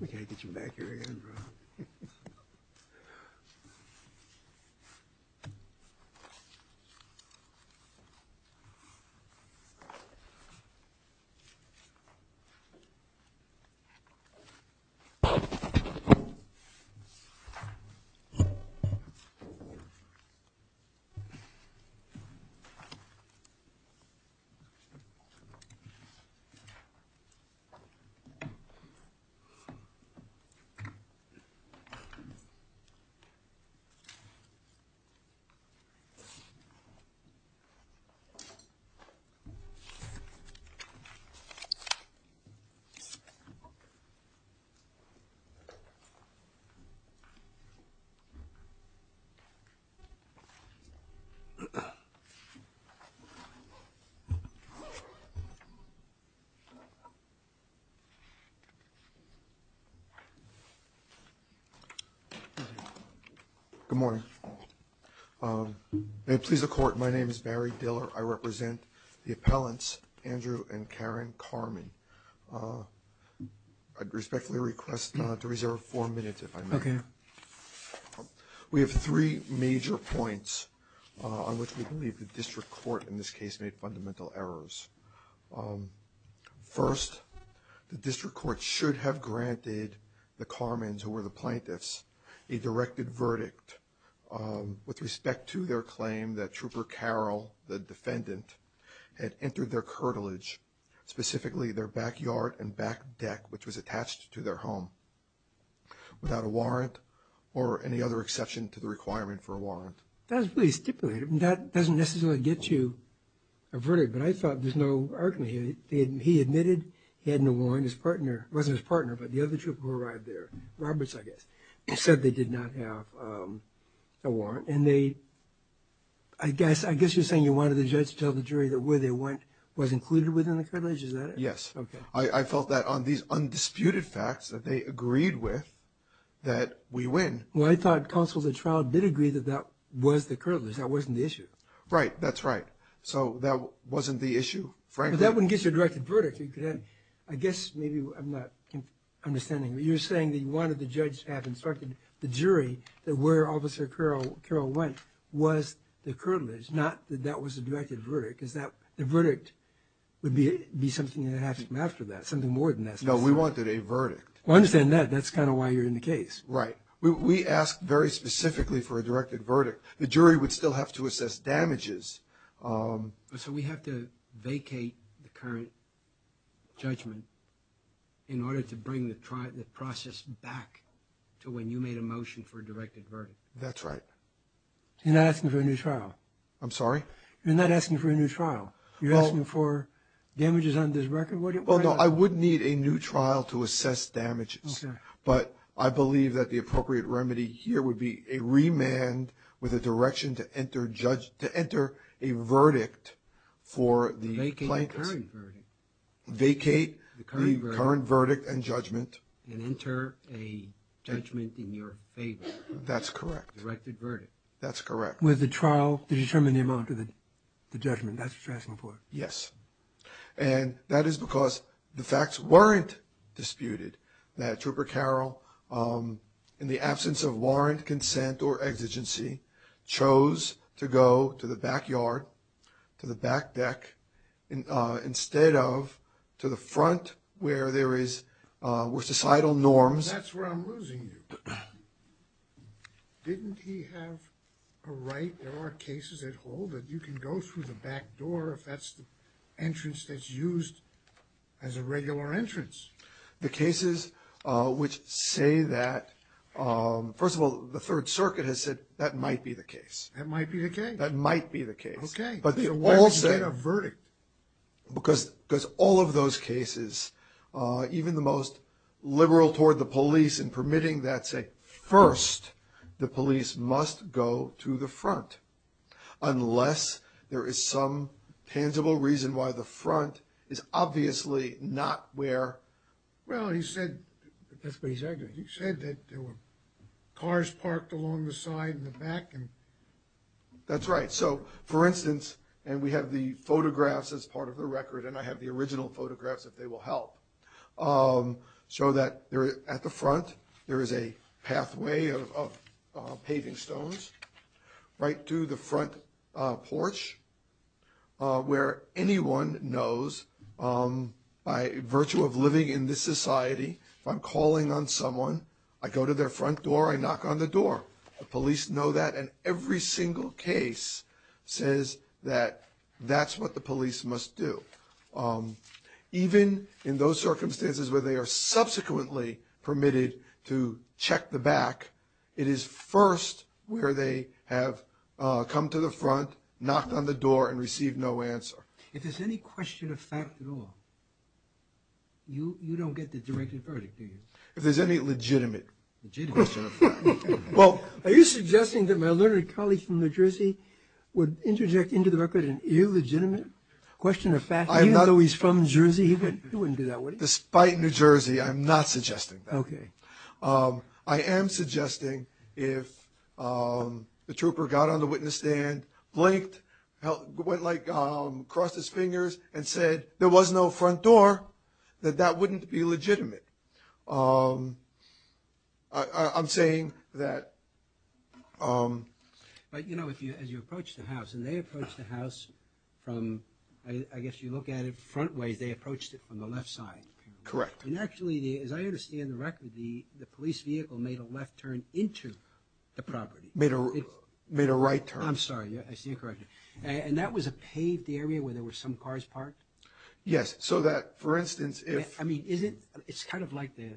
We can't get you back here again, bro. Good morning. Please the court. My name is Barry Diller. I represent the appellants, Andrew and Karen Carmen. I respectfully request to reserve four minutes if I may. We have three major points on which we believe the district court in this case made fundamental errors. First, the district court should have granted the Carmens, who were the plaintiffs, a directed verdict with respect to their claim that Trooper Carol, the defendant, had entered their cartilage, specifically their backyard and back deck, which was attached to their home. Without a warrant or any other exception to the requirement for a warrant. That was really stipulated. That doesn't necessarily get you a verdict, but I thought there's no argument here. He admitted he had no warrant. His partner, it wasn't his partner, but the other trooper who arrived there, Roberts, I guess, said they did not have a warrant. And they, I guess, I guess you're saying you wanted the judge to tell the jury that where they went was included within the cartilage, is that it? Yes. I felt that on these undisputed facts that they agreed with, that we win. Well, I thought counsels at trial did agree that that was the cartilage. That wasn't the issue. Right. That's right. So that wasn't the issue, frankly. But that wouldn't get you a directed verdict. I guess maybe I'm not understanding. You're saying that you wanted the judge to have instructed the jury that where Officer Carroll went was the cartilage, not that that was a directed verdict. The verdict would be something that happened after that, something more than that. No, we wanted a verdict. I understand that. That's kind of why you're in the case. Right. We asked very specifically for a directed verdict. The jury would still have to assess damages. So we have to vacate the current judgment in order to bring the process back to when you made a motion for a directed verdict. That's right. You're not asking for a new trial. I'm sorry? You're not asking for a new trial. You're asking for damages on this record? Well, no, I would need a new trial to assess damages. Okay. But I believe that the appropriate remedy here would be a remand with a direction to enter a verdict for the plaintiffs. Vacate the current verdict. Vacate the current verdict and judgment. And enter a judgment in your favor. That's correct. A directed verdict. That's correct. With a trial to determine the amount of the judgment. That's what you're asking for. Yes. And that is because the facts weren't disputed that Trooper Carroll, in the absence of warrant, consent, or exigency, chose to go to the backyard, to the back deck, instead of to the front where there is, where societal norms... That's where I'm losing you. Didn't he have a right? There are cases that hold it. You can go through the back door if that's the entrance that's used as a regular entrance. The cases which say that... First of all, the Third Circuit has said that might be the case. That might be the case. That might be the case. Okay. But they all say... Why would you get a verdict? Because all of those cases, even the most liberal toward the police in permitting that say, first, the police must go to the front unless there is some tangible reason why the front is obviously not where... Well, he said... That's what he said. He said that there were cars parked along the side and the back. That's right. So, for instance, and we have the photographs as part of the record, and I have the original photographs if they will help, show that at the front there is a pathway of paving stones right to the front porch where anyone knows, by virtue of living in this society, if I'm calling on someone, I go to their front door, I knock on the door. The police know that, and every single case says that that's what the police must do. Even in those circumstances where they are subsequently permitted to check the back, it is first where they have come to the front, knocked on the door, and received no answer. If there's any question of fact at all, you don't get the directed verdict, do you? If there's any legitimate question of fact. Are you suggesting that my learned colleague from New Jersey would interject into the record an illegitimate question of fact, even though he's from New Jersey? He wouldn't do that, would he? Despite New Jersey, I'm not suggesting that. I am suggesting if the trooper got on the witness stand, blinked, went like, crossed his fingers, and said there was no front door, that that wouldn't be legitimate. I'm saying that... But, you know, as you approach the house, and they approached the house from, I guess you look at it front ways, they approached it from the left side. Correct. And actually, as I understand the record, the police vehicle made a left turn into the property. Made a right turn. I'm sorry, I see you're correcting me. And that was a paved area where there were some cars parked? Yes, so that, for instance, if... I mean, is it, it's kind of like the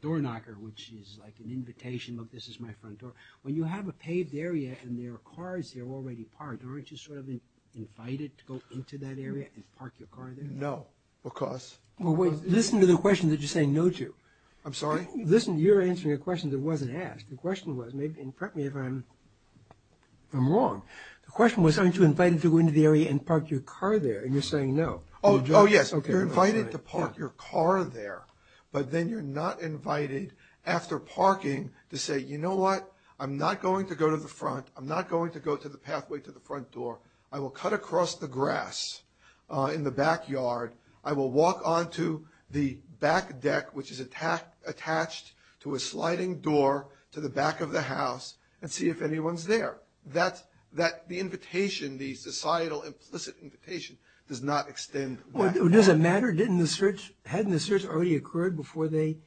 door knocker, which is like an invitation, look, this is my front door. When you have a paved area and there are cars that are already parked, aren't you sort of invited to go into that area and park your car there? No, because... Listen to the question that you're saying no to. I'm sorry? Listen, you're answering a question that wasn't asked. The question was, and correct me if I'm wrong, the question was, aren't you invited to go into the area and park your car there? And you're saying no. Oh, yes, you're invited to park your car there, but then you're not invited, after parking, to say, you know what? I'm not going to go to the front. I'm not going to go to the pathway to the front door. I will cut across the grass in the backyard. I will walk onto the back deck, which is attached to a sliding door to the back of the house, and see if anyone's there. The invitation, the societal implicit invitation, does not extend back. Well, does it matter? Hadn't the search already occurred before they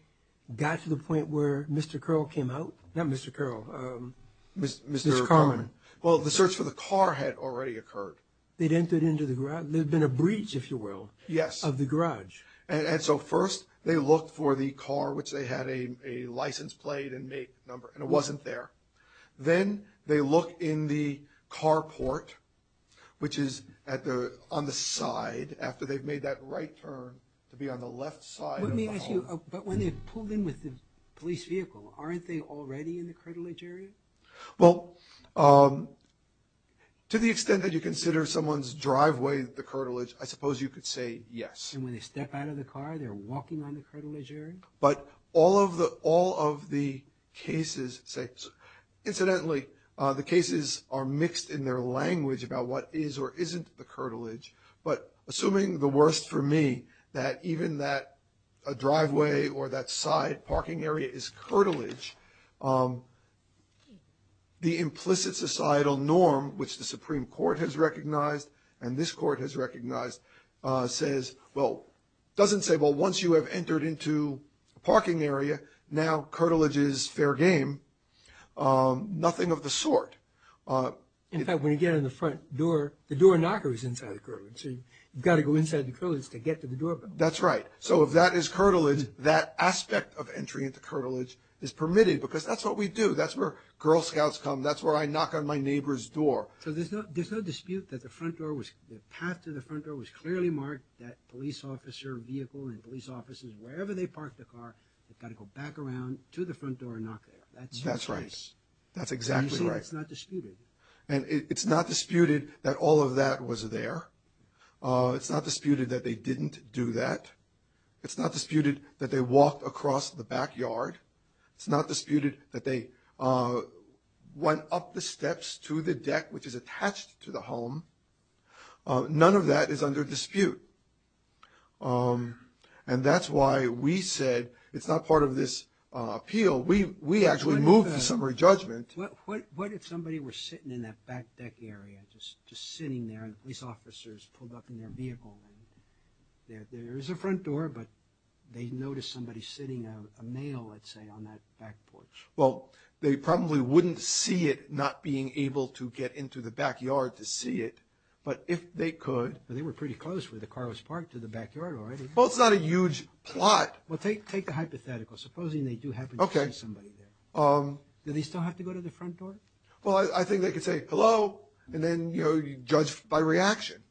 got to the point where Mr. Curl came out? Not Mr. Curl. Mr. Carman. Well, the search for the car had already occurred. They'd entered into the garage. There had been a breach, if you will, of the garage. And so first they looked for the car, which they had a license plate and make number, and it wasn't there. Then they look in the car port, which is on the side, after they've made that right turn to be on the left side of the home. Let me ask you, but when they pulled in with the police vehicle, aren't they already in the curtilage area? Well, to the extent that you consider someone's driveway the curtilage, I suppose you could say yes. And when they step out of the car, they're walking on the curtilage area? But all of the cases say, incidentally, the cases are mixed in their language about what is or isn't the curtilage. But assuming the worst for me, that even that driveway or that side parking area is curtilage, the implicit societal norm, which the Supreme Court has recognized and this court has recognized, says, well, doesn't say, well, once you have entered into a parking area, now curtilage is fair game. Nothing of the sort. In fact, when you get in the front door, the door knocker is inside the curtilage. So you've got to go inside the curtilage to get to the doorbell. That's right. So if that is curtilage, that aspect of entry into curtilage is permitted because that's what we do. That's where Girl Scouts come. That's where I knock on my neighbor's door. So there's no dispute that the front door was, the path to the front door was clearly marked that police officer vehicle and police officers, wherever they parked the car, they've got to go back around to the front door and knock there. That's right. That's exactly right. So it's not disputed. And it's not disputed that all of that was there. It's not disputed that they didn't do that. It's not disputed that they walked across the backyard. It's not disputed that they went up the steps to the deck, which is attached to the home. None of that is under dispute. And that's why we said it's not part of this appeal. We actually moved to summary judgment. What if somebody were sitting in that back deck area, just sitting there and police officers pulled up in their vehicle? There is a front door, but they noticed somebody sitting, a male, let's say, on that back porch. Well, they probably wouldn't see it not being able to get into the backyard to see it, but if they could. But they were pretty close where the car was parked to the backyard already. Well, it's not a huge plot. Well, take the hypothetical. Supposing they do happen to see somebody there. Do they still have to go to the front door? Well, I think they could say, hello, and then, you know, judge by reaction.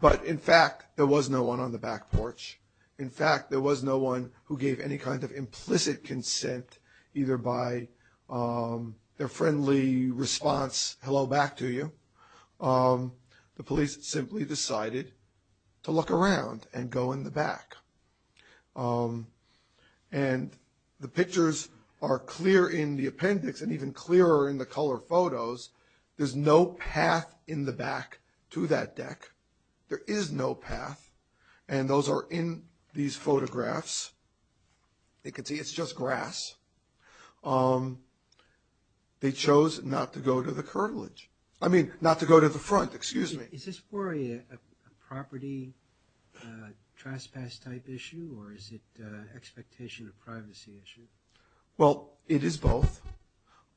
But, in fact, there was no one on the back porch. In fact, there was no one who gave any kind of implicit consent, either by their friendly response, hello, back to you. The police simply decided to look around and go in the back. And the pictures are clear in the appendix, and even clearer in the color photos. There's no path in the back to that deck. There is no path, and those are in these photographs. They can see it's just grass. They chose not to go to the front. Is this more a property trespass type issue, or is it an expectation of privacy issue? Well, it is both.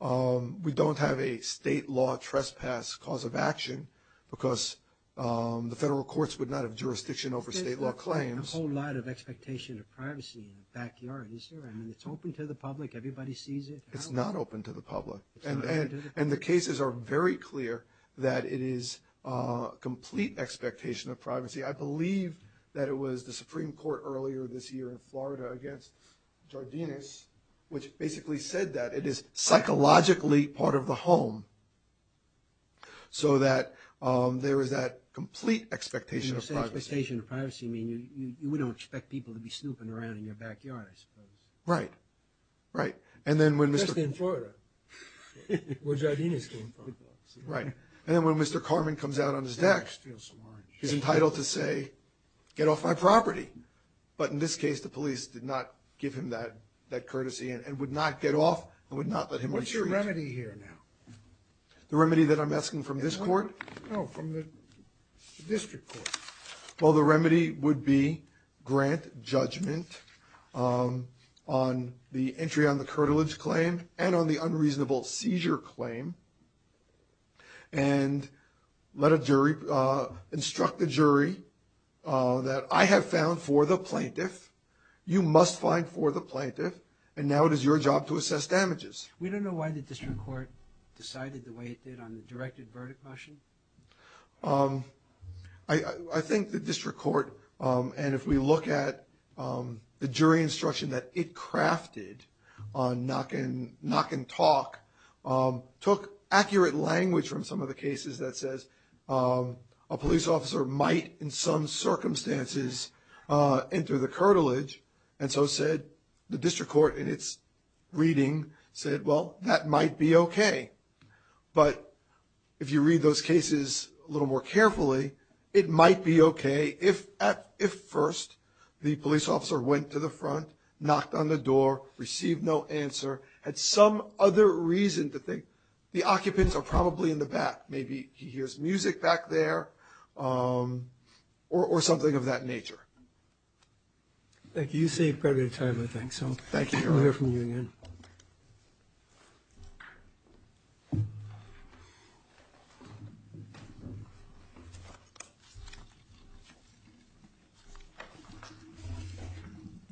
We don't have a state law trespass cause of action because the federal courts would not have jurisdiction over state law claims. There's a whole lot of expectation of privacy in the backyard, isn't there? I mean, it's open to the public. Everybody sees it. It's not open to the public, and the cases are very clear that it is a complete expectation of privacy. I believe that it was the Supreme Court earlier this year in Florida against Jardinis, which basically said that it is psychologically part of the home so that there is that complete expectation of privacy. When you say expectation of privacy, you mean you wouldn't expect people to be snooping around in your backyard, I suppose. Right, right. Especially in Florida, where Jardinis came from. Right, and then when Mr. Carman comes out on his deck, he's entitled to say, get off my property. But in this case, the police did not give him that courtesy and would not get off and would not let him retreat. What's the remedy here now? The remedy that I'm asking from this court? No, from the district court. Well, the remedy would be grant judgment on the entry on the curtilage claim and on the unreasonable seizure claim and instruct the jury that I have found for the plaintiff, you must find for the plaintiff, and now it is your job to assess damages. We don't know why the district court decided the way it did on the directed verdict motion. I think the district court, and if we look at the jury instruction that it crafted on knock and talk, took accurate language from some of the cases that says a police officer might in some circumstances enter the curtilage and so said the district court in its reading said, well, that might be okay. But if you read those cases a little more carefully, it might be okay if at first the police officer went to the front, knocked on the door, received no answer, had some other reason to think the occupants are probably in the back. Maybe he hears music back there or something of that nature. Thank you. You saved quite a bit of time, I think. So thank you. We'll hear from you again.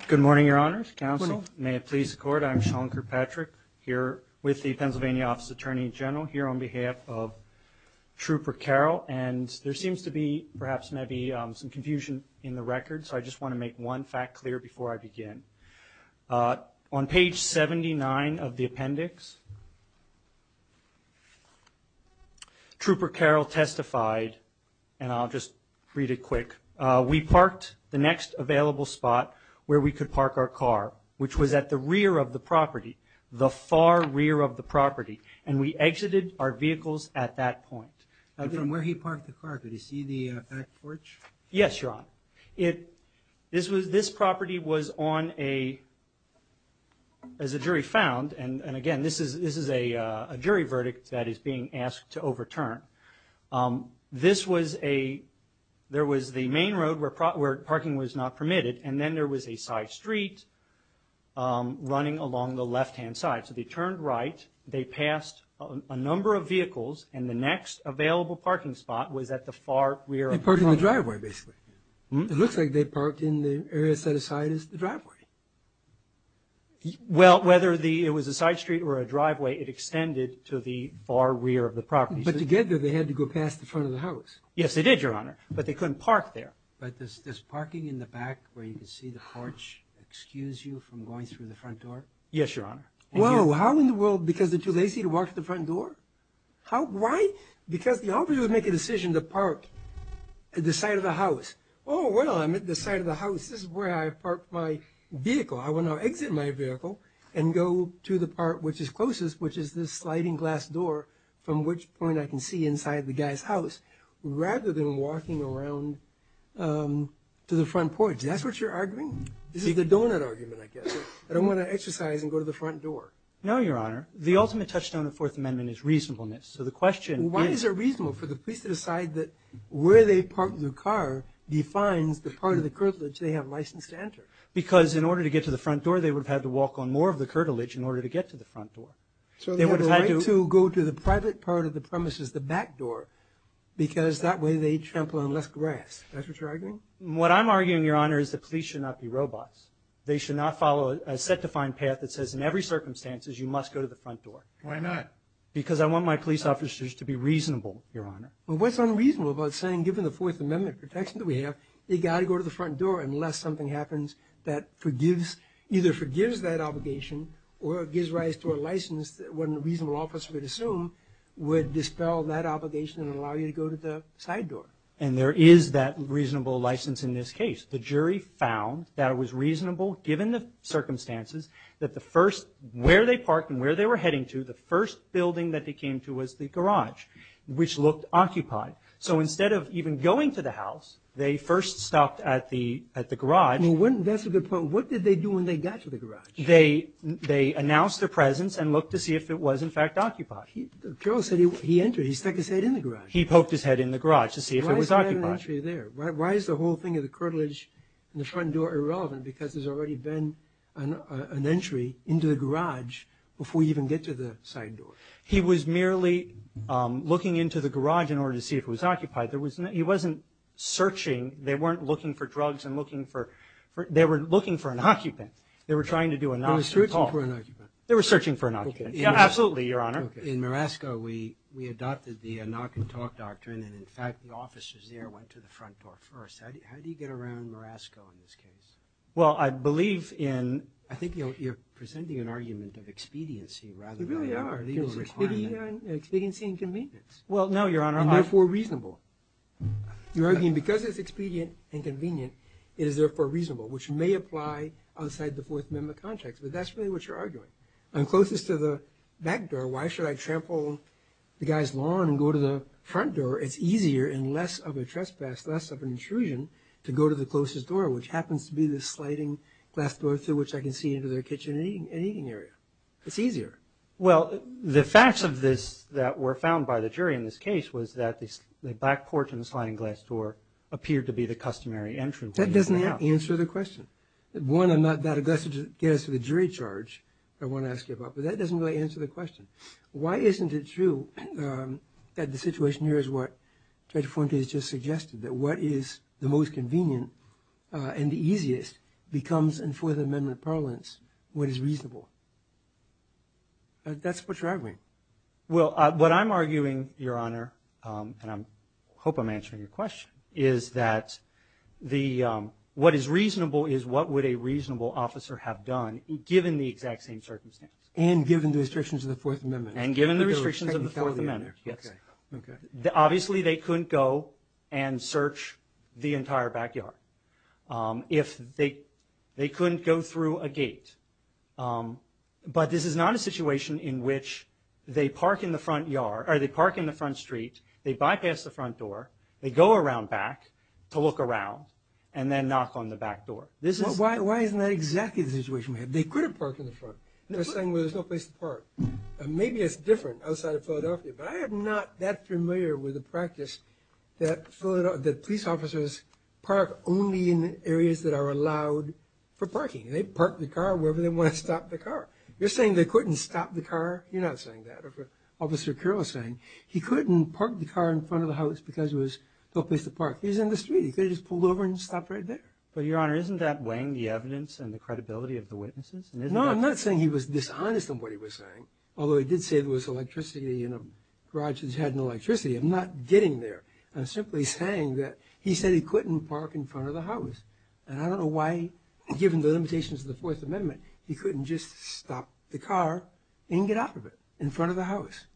Good morning, Your Honors. Counsel, may it please the Court. I'm Sean Kirkpatrick here with the Pennsylvania Office of the Attorney General here on behalf of Trooper Carroll, and there seems to be perhaps maybe some confusion in the record, so I just want to make one fact clear before I begin. On page 79 of the appendix, Trooper Carroll testified, and I'll just read it quick. We parked the next available spot where we could park our car, which was at the rear of the property, the far rear of the property, and we exited our vehicles at that point. And from where he parked the car, could he see the back porch? Yes, Your Honor. This property was on a, as the jury found, and again this is a jury verdict that is being asked to overturn. This was a, there was the main road where parking was not permitted, and then there was a side street running along the left-hand side. So they turned right, they passed a number of vehicles, and the next available parking spot was at the far rear of the property. They parked in the driveway, basically. It looks like they parked in the area set aside as the driveway. Well, whether it was a side street or a driveway, it extended to the far rear of the property. But to get there, they had to go past the front of the house. Yes, they did, Your Honor, but they couldn't park there. But does parking in the back where you can see the porch excuse you from going through the front door? Yes, Your Honor. Whoa, how in the world, because they're too lazy to walk to the front door? Why? Because the officer would make a decision to park at the side of the house. Oh, well, I'm at the side of the house. This is where I parked my vehicle. I want to exit my vehicle and go to the part which is closest, which is this sliding glass door from which point I can see inside the guy's house, rather than walking around to the front porch. That's what you're arguing? This is the donut argument, I guess. I don't want to exercise and go to the front door. No, Your Honor. The ultimate touchstone of Fourth Amendment is reasonableness. Why is it reasonable for the police to decide that where they park their car defines the part of the curtilage they have license to enter? Because in order to get to the front door, they would have had to walk on more of the curtilage in order to get to the front door. So they have a right to go to the private part of the premises, the back door, because that way they trample on less grass. That's what you're arguing? What I'm arguing, Your Honor, is that police should not be robots. They should not follow a set-defined path that says, in every circumstance, you must go to the front door. Why not? Because I want my police officers to be reasonable, Your Honor. Well, what's unreasonable about saying, given the Fourth Amendment protection that we have, they've got to go to the front door unless something happens that either forgives that obligation or gives rise to a license that what a reasonable officer would assume would dispel that obligation and allow you to go to the side door. And there is that reasonable license in this case. The jury found that it was reasonable, given the circumstances, that the first – where they parked and where they were heading to, the first building that they came to was the garage, which looked occupied. So instead of even going to the house, they first stopped at the garage. That's a good point. What did they do when they got to the garage? They announced their presence and looked to see if it was, in fact, occupied. Carroll said he entered. He stuck his head in the garage. He poked his head in the garage to see if it was occupied. Why is the whole thing of the curtilage and the front door irrelevant because there's already been an entry into the garage before you even get to the side door? He was merely looking into the garage in order to see if it was occupied. He wasn't searching. They weren't looking for drugs and looking for – they were looking for an occupant. They were trying to do a knock and talk. They were searching for an occupant. They were searching for an occupant. Absolutely, Your Honor. In Marasco, we adopted the knock and talk doctrine, and, in fact, the officers there went to the front door first. How do you get around Marasco in this case? Well, I believe in – I think you're presenting an argument of expediency rather than a requirement. You really are. Expediency and convenience. Well, no, Your Honor. And therefore reasonable. You're arguing because it's expedient and convenient, it is therefore reasonable, which may apply outside the Fourth Amendment context, but that's really what you're arguing. I'm closest to the back door. Why should I trample the guy's lawn and go to the front door? It's easier and less of a trespass, less of an intrusion to go to the closest door, which happens to be the sliding glass door through which I can see into their kitchen and eating area. It's easier. Well, the facts of this that were found by the jury in this case was that the back porch and the sliding glass door appeared to be the customary entrance. That doesn't answer the question. One, I'm not that aggressive to get us to the jury charge I want to ask you about, but that doesn't really answer the question. Why isn't it true that the situation here is what Judge Fuentes just suggested, that what is the most convenient and the easiest becomes in Fourth Amendment parlance what is reasonable? That's what you're arguing. Well, what I'm arguing, Your Honor, and I hope I'm answering your question, is that what is reasonable is what would a reasonable officer have done, given the exact same circumstance. And given the restrictions of the Fourth Amendment. And given the restrictions of the Fourth Amendment, yes. Obviously, they couldn't go and search the entire backyard. They couldn't go through a gate. But this is not a situation in which they park in the front street, they bypass the front door, they go around back to look around, and then knock on the back door. Why isn't that exactly the situation we have? They could have parked in the front. They're saying, well, there's no place to park. Maybe it's different outside of Philadelphia, but I am not that familiar with the practice that police officers park only in areas that are allowed for parking. They park the car wherever they want to stop the car. You're saying they couldn't stop the car? You're not saying that. He couldn't park the car in front of the house because there was no place to park. He was in the street. He could have just pulled over and stopped right there. But, Your Honor, isn't that weighing the evidence and the credibility of the witnesses? No, I'm not saying he was dishonest in what he was saying, although he did say there was electricity in a garage that had no electricity. I'm not getting there. I'm simply saying that he said he couldn't park in front of the house. And I don't know why, given the limitations of the Fourth Amendment, he couldn't just stop the car and get off of it in front of the house.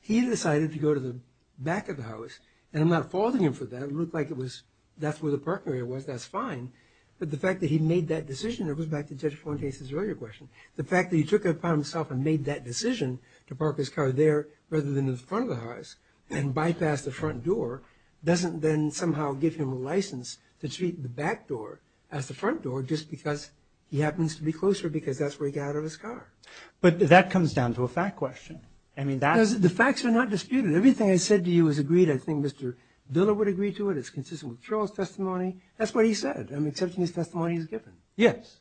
He decided to go to the back of the house, and I'm not faulting him for that. It looked like that's where the parking area was. That's fine. But the fact that he made that decision, it goes back to Judge Fuentes' earlier question. The fact that he took it upon himself and made that decision to park his car there rather than in front of the house and bypass the front door doesn't then somehow give him a license to treat the back door as the front door just because he happens to be closer because that's where he got out of his car. But that comes down to a fact question. The facts are not disputed. Everything I said to you is agreed. I think Mr. Diller would agree to it. It's consistent with Charles' testimony. That's what he said. I'm accepting his testimony as given. Yes.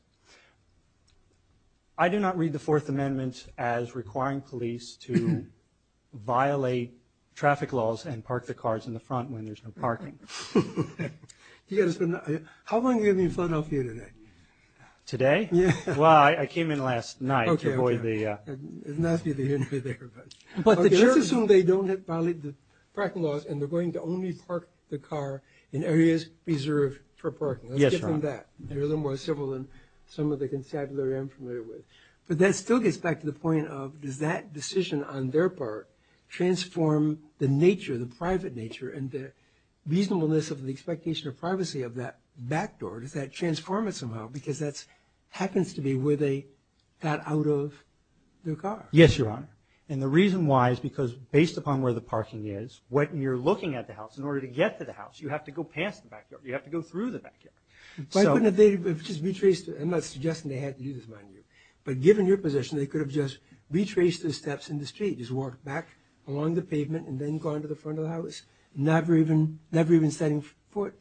I do not read the Fourth Amendment as requiring police to violate traffic laws and park their cars in the front when there's no parking. How long are you going to be in Philadelphia today? Today? Well, I came in last night to avoid the... Okay, okay. It's nice to be there. Let's assume they don't violate the parking laws and they're going to only park the car in areas reserved for parking. Let's give them that. They're a little more civil than some of the constabulary I'm familiar with. But that still gets back to the point of does that decision on their part transform the nature, the private nature and the reasonableness of the expectation of privacy of that back door? Does that transform it somehow? Because that happens to be where they got out of their car. Yes, Your Honor. And the reason why is because based upon where the parking is, when you're looking at the house in order to get to the house, you have to go past the back door. You have to go through the back door. Why couldn't they have just retraced it? I'm not suggesting they had to do this, mind you. But given your position, they could have just retraced the steps in the street, just walked back along the pavement and then gone to the front of the house, never even setting foot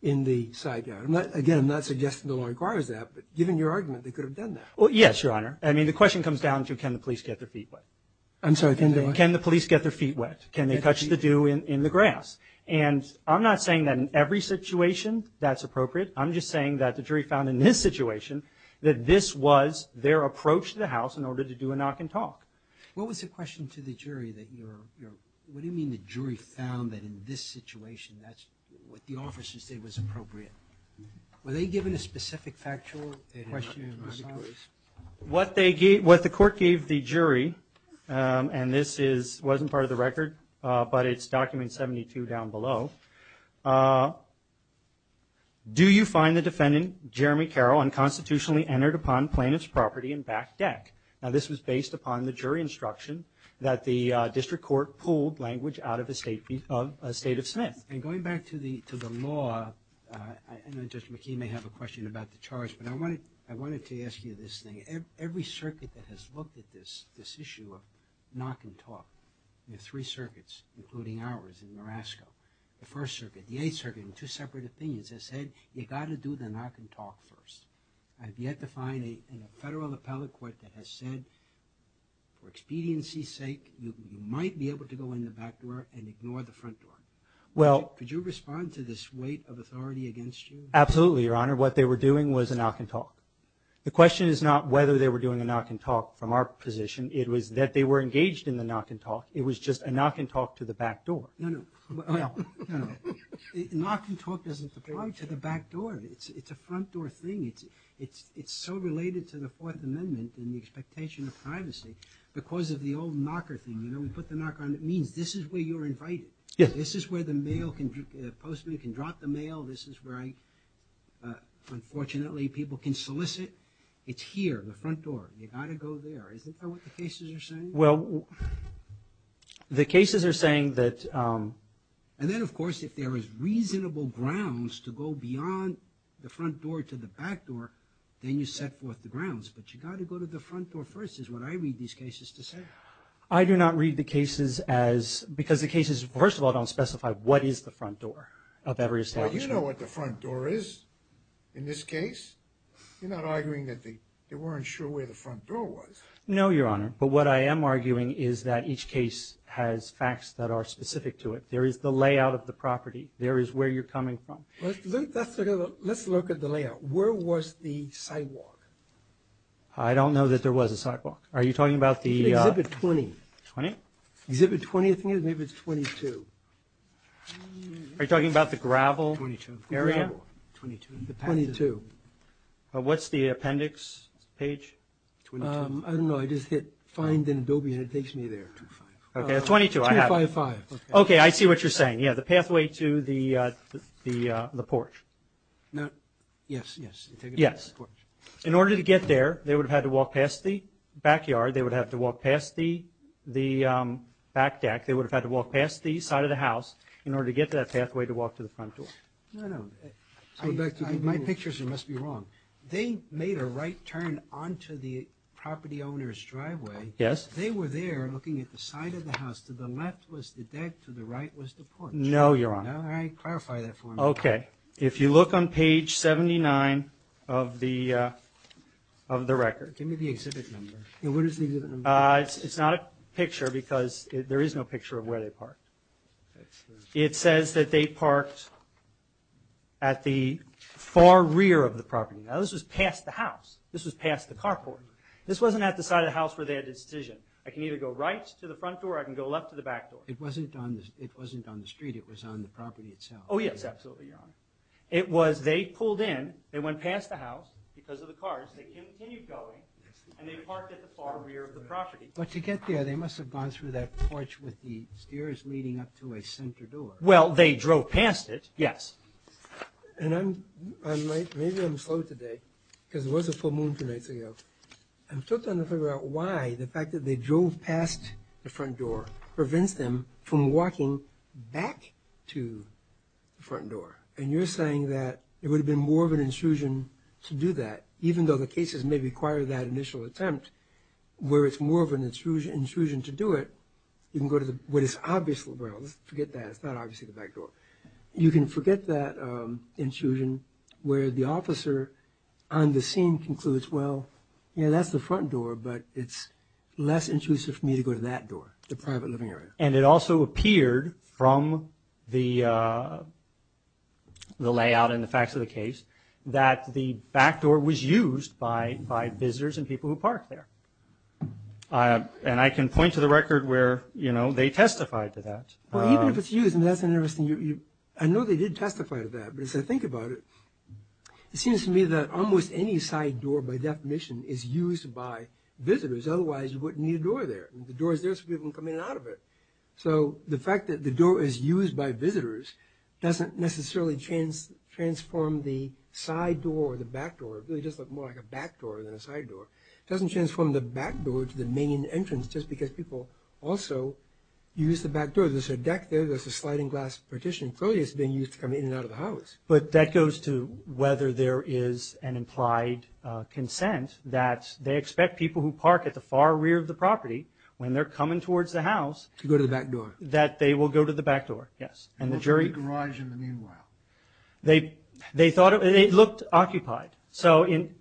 in the side yard. Again, I'm not suggesting the law requires that. But given your argument, they could have done that. Well, yes, Your Honor. I mean, the question comes down to can the police get their feet wet. I'm sorry. Can the police get their feet wet? Can they touch the dew in the grass? And I'm not saying that in every situation that's appropriate. I'm just saying that the jury found in this situation that this was their approach to the house in order to do a knock and talk. What was the question to the jury? What do you mean the jury found that in this situation that's what the officer said was appropriate? Were they given a specific factual question in response? What the court gave the jury, and this wasn't part of the record, but it's Document 72 down below, do you find the defendant, Jeremy Carroll, unconstitutionally entered upon plaintiff's property and back deck? Now, this was based upon the jury instruction that the district court pulled language out of a State of Smith. And going back to the law, I know Judge McKee may have a question about the charge, but I wanted to ask you this thing. Every circuit that has looked at this issue of knock and talk, the three circuits, including ours in Morasco, the First Circuit, the Eighth Circuit, in two separate opinions, has said you've got to do the knock and talk first. I've yet to find a federal appellate court that has said, for expediency's sake, you might be able to go in the back door and ignore the front door. Could you respond to this weight of authority against you? Absolutely, Your Honor. What they were doing was a knock and talk. The question is not whether they were doing a knock and talk from our position. It was that they were engaged in the knock and talk. It was just a knock and talk to the back door. No, no. Knock and talk doesn't apply to the back door. It's a front door thing. It's so related to the Fourth Amendment and the expectation of privacy because of the old knocker thing. You know, we put the knocker on. It means this is where you're invited. This is where the postman can drop the mail. This is where, unfortunately, people can solicit. It's here, the front door. You've got to go there. Isn't that what the cases are saying? Well, the cases are saying that – And then, of course, if there is reasonable grounds to go beyond the front door to the back door, then you set forth the grounds. But you've got to go to the front door first is what I read these cases to say. I do not read the cases as – because the cases, first of all, don't specify what is the front door of every establishment. Well, you know what the front door is in this case. You're not arguing that they weren't sure where the front door was. No, Your Honor. But what I am arguing is that each case has facts that are specific to it. There is the layout of the property. There is where you're coming from. Let's look at the layout. Where was the sidewalk? I don't know that there was a sidewalk. Are you talking about the – Exhibit 20. 20? Exhibit 20, I think it is. Maybe it's 22. Are you talking about the gravel area? 22. 22. 22. What's the appendix page? I don't know. I just hit Find in Adobe, and it takes me there. Okay. At 22, I have it. 255. Okay, I see what you're saying. Yeah, the pathway to the porch. Yes, yes. Yes. In order to get there, they would have had to walk past the backyard. They would have to walk past the back deck. They would have had to walk past the side of the house in order to get to that pathway to walk to the front door. No, no. My picture must be wrong. They made a right turn onto the property owner's driveway. Yes. They were there looking at the side of the house. To the left was the deck. To the right was the porch. No, Your Honor. I clarify that for you. Okay. If you look on page 79 of the record. Give me the exhibit number. What is the exhibit number? It's not a picture because there is no picture of where they parked. It says that they parked at the far rear of the property. Now, this was past the house. This was past the carport. This wasn't at the side of the house where they had a decision. I can either go right to the front door or I can go left to the back door. It wasn't on the street. It was on the property itself. Oh, yes. Absolutely, Your Honor. It was they pulled in. They went past the house because of the cars. They continued going and they parked at the far rear of the property. But to get there, they must have gone through that porch with the stairs leading up to a center door. Well, they drove past it. Yes. And I'm late. Maybe I'm slow today because it was a full moon two nights ago. I'm still trying to figure out why the fact that they drove past the front door prevents them from walking back to the front door. And you're saying that it would have been more of an intrusion to do that even though the cases may require that initial attempt where it's more of an intrusion to do it. You can go to what is obviously the rear. Forget that. It's not obviously the back door. You can forget that intrusion where the officer on the scene concludes, well, that's the front door, but it's less intrusive for me to go to that door, the private living area. And it also appeared from the layout and the facts of the case that the back door was used by visitors and people who parked there. And I can point to the record where they testified to that. Well, even if it's used, that's an interesting... I know they did testify to that, but as I think about it, it seems to me that almost any side door, by definition, is used by visitors. Otherwise, you wouldn't need a door there. The door is there so people can come in and out of it. So, the fact that the door is used by visitors doesn't necessarily transform the side door or the back door. It really does look more like a back door than a side door. It doesn't transform the back door to the main entrance just because people also use the back door. There's a deck there. There's a sliding glass partition. Clearly, it's being used to come in and out of the house. But that goes to whether there is an implied consent that they expect people who park at the far rear of the property, when they're coming towards the house... To go to the back door. ...that they will go to the back door, yes. And the jury... They will go to the garage in the meanwhile. They thought it... It looked occupied. So, in...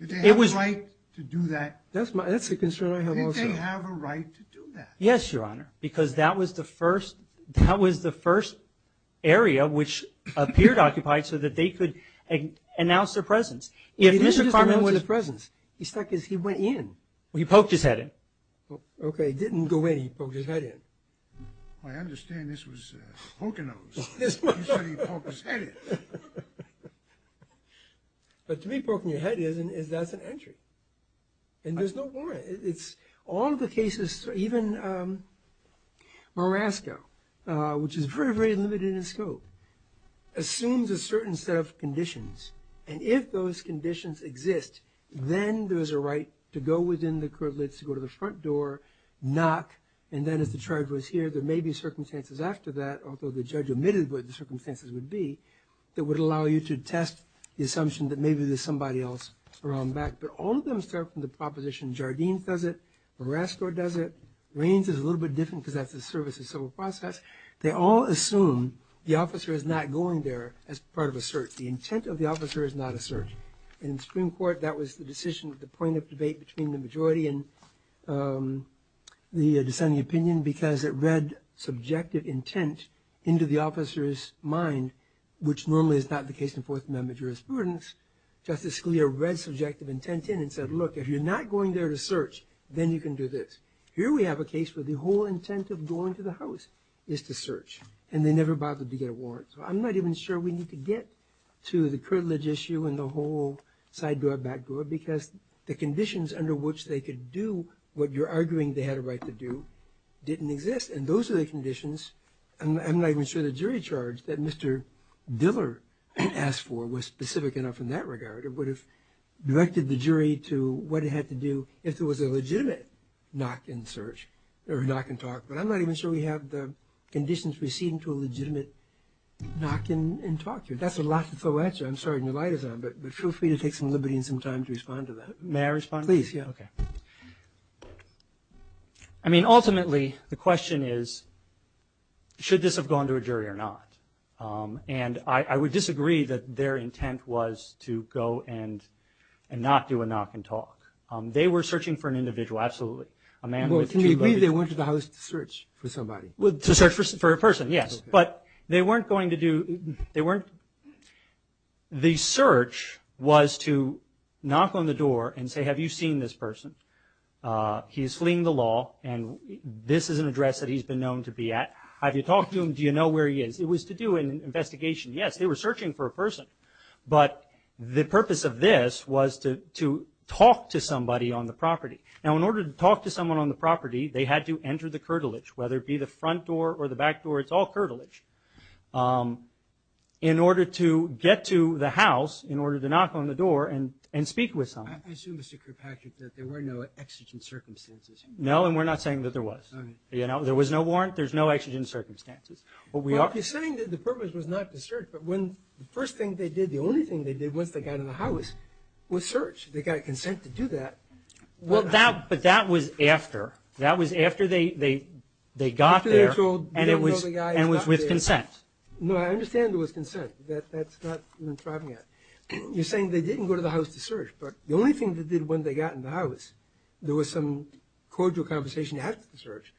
Did they have a right to do that? That's a concern I have also. Did they have a right to do that? Yes, Your Honor. Because that was the first... That was the first area which appeared occupied so that they could announce their presence. If Mr. Carmel... He didn't just announce his presence. He stuck his... He went in. Well, he poked his head in. Okay. He didn't go in. He poked his head in. I understand this was poking those. He said he poked his head in. But to be poking your head in, that's an entry. And there's no warrant. It's... All of the cases, even Marasco, which is very, very limited in scope, assumes a certain set of conditions. And if those conditions exist, then there's a right to go within the curtilage, to go to the front door, knock, and then if the charge was here, there may be circumstances after that, although the judge omitted what the circumstances would be, that would allow you to test the assumption that maybe there's somebody else around back. But all of them start from the proposition. Jardines does it. Marasco does it. Raines is a little bit different because that's the service of civil process. They all assume the officer is not going there as part of a search. The intent of the officer is not a search. In Supreme Court, that was the decision, the point of debate between the majority and the dissenting opinion because it read subjective intent into the officer's mind, which normally is not the case in Fourth Amendment jurisprudence. Justice Scalia read subjective intent in and said, look, if you're not going there to search, then you can do this. Here we have a case where the whole intent of going to the house is to search, and they never bothered to get a warrant. So I'm not even sure we need to get to the curtilage issue and the whole side door, back door, because the conditions under which they could do what you're arguing they had a right to do didn't exist. And those are the conditions, and I'm not even sure the jury charge that Mr. Diller asked for was specific enough in that regard. It would have directed the jury to what it had to do if there was a legitimate knock and search or knock and talk, but I'm not even sure we have the conditions we see into a legitimate knock and talk here. That's a lot to throw at you. I'm sorry, and your light is on, but feel free to take some liberty and some time to respond to that. May I respond? Please, yeah. Okay. I mean, ultimately, the question is, should this have gone to a jury or not? And I would disagree that their intent was to go and not do a knock and talk. They were searching for an individual, absolutely. Well, to me, they went to the house to search for somebody. To search for a person, yes. But they weren't going to do, they weren't, the search was to knock on the door and say, have you seen this person? He's fleeing the law, and this is an address that he's been known to be at. Have you talked to him? Do you know where he is? It was to do an investigation. Yes, they were searching for a person, but the purpose of this was to talk to somebody on the property. Now, in order to talk to someone on the property, they had to enter the curtilage, whether it be the front door or the back door. It's all curtilage. In order to get to the house, in order to knock on the door and speak with someone. I assume, Mr. Kirkpatrick, that there were no exigent circumstances. No, and we're not saying that there was. There was no warrant. There's no exigent circumstances. You're saying that the purpose was not to search, but when the first thing they did, the only thing they did once they got in the house, was search. They got consent to do that. But that was after. That was after they got there and it was with consent. No, I understand there was consent. That's not what I'm talking about. You're saying they didn't go to the house to search, but the only thing they did when they got in the house, there was some cordial conversation after the search,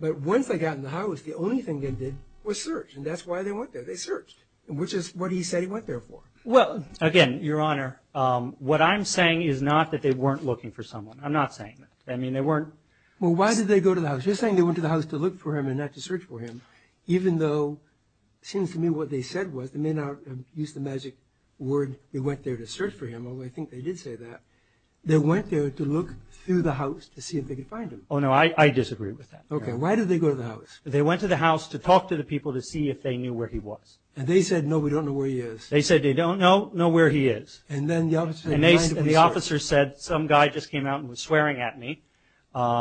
but once they got in the house, the only thing they did was search. And that's why they went there. They searched, which is what he said he went there for. Well, again, Your Honor, what I'm saying is not that they weren't looking for someone. I'm not saying that. I mean, they weren't. Well, why did they go to the house? You're saying they went to the house to look for him and not to search for him, even though it seems to me what they said was, they may not have used the magic word, they went there to search for him, although I think they did say that. They went there to look through the house to see if they could find him. Oh, no. I disagree with that. Okay. Why did they go to the house? They went to the house to talk to the people to see if they knew where he was. And they said, no, we don't know where he is. They said, they don't know where he is. And then the officer said, mind if we search? And the officer said, some guy just came out and was swearing at me. Do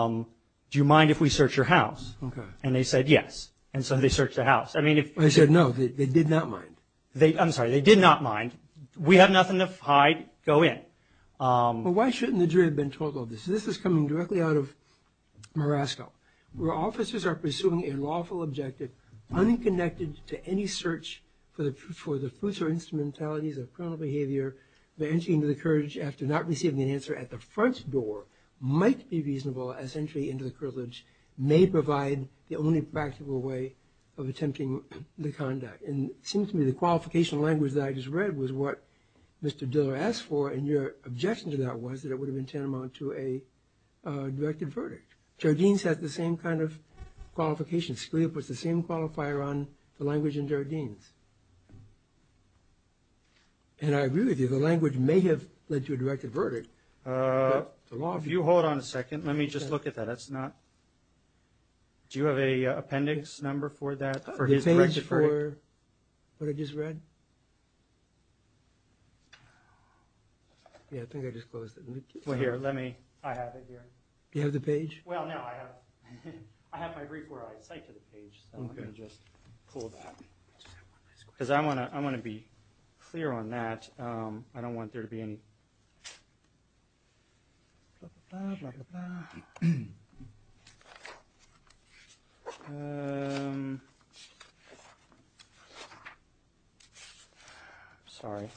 you mind if we search your house? Okay. And they said, yes. And so they searched the house. I mean, if... They said, no, they did not mind. I'm sorry. They did not mind. We have nothing to hide. Go in. Well, why shouldn't the jury have been told all this? This is coming directly out of Morasco, where officers are pursuing a lawful objective, unconnected to any search for the fruits or instrumentalities of criminal behavior. The entry into the courthouse after not receiving an answer at the front door might be reasonable as entry into the courthouse may provide the only practical way of attempting the conduct. And it seems to me the qualification language that I just read was what Mr. Diller asked for, and your objection to that was that it would have been tantamount to a directed verdict. Jardines has the same kind of qualification. Scalia puts the same qualifier on the language in Jardines. And I agree with you. The language may have led to a directed verdict, but the law... If you hold on a second, let me just look at that. That's not... Do you have an appendix number for that, for his directed verdict? For what I just read? Yeah, I think I just closed it. Well, here, let me... I have it here. You have the page? Well, no, I have my brief where I cite to the page, so I'm going to just pull that. Because I want to be clear on that. I don't want there to be any... Sorry.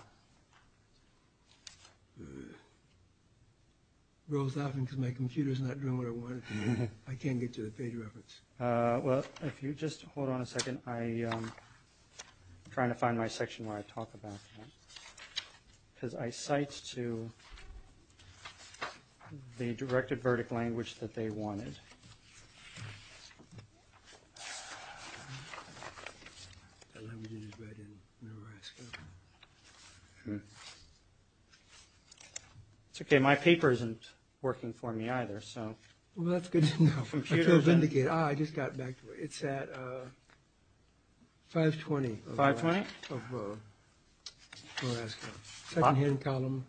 It rolls off because my computer's not doing what I want it to do. I can't get to the page reference. Well, if you just hold on a second, I'm trying to find my section where I talk about that. Because I cite to the directed verdict language that they wanted. It's okay. My paper isn't working for me either, so... I just got back to it. It's at 520. 520? Of the secondhand column.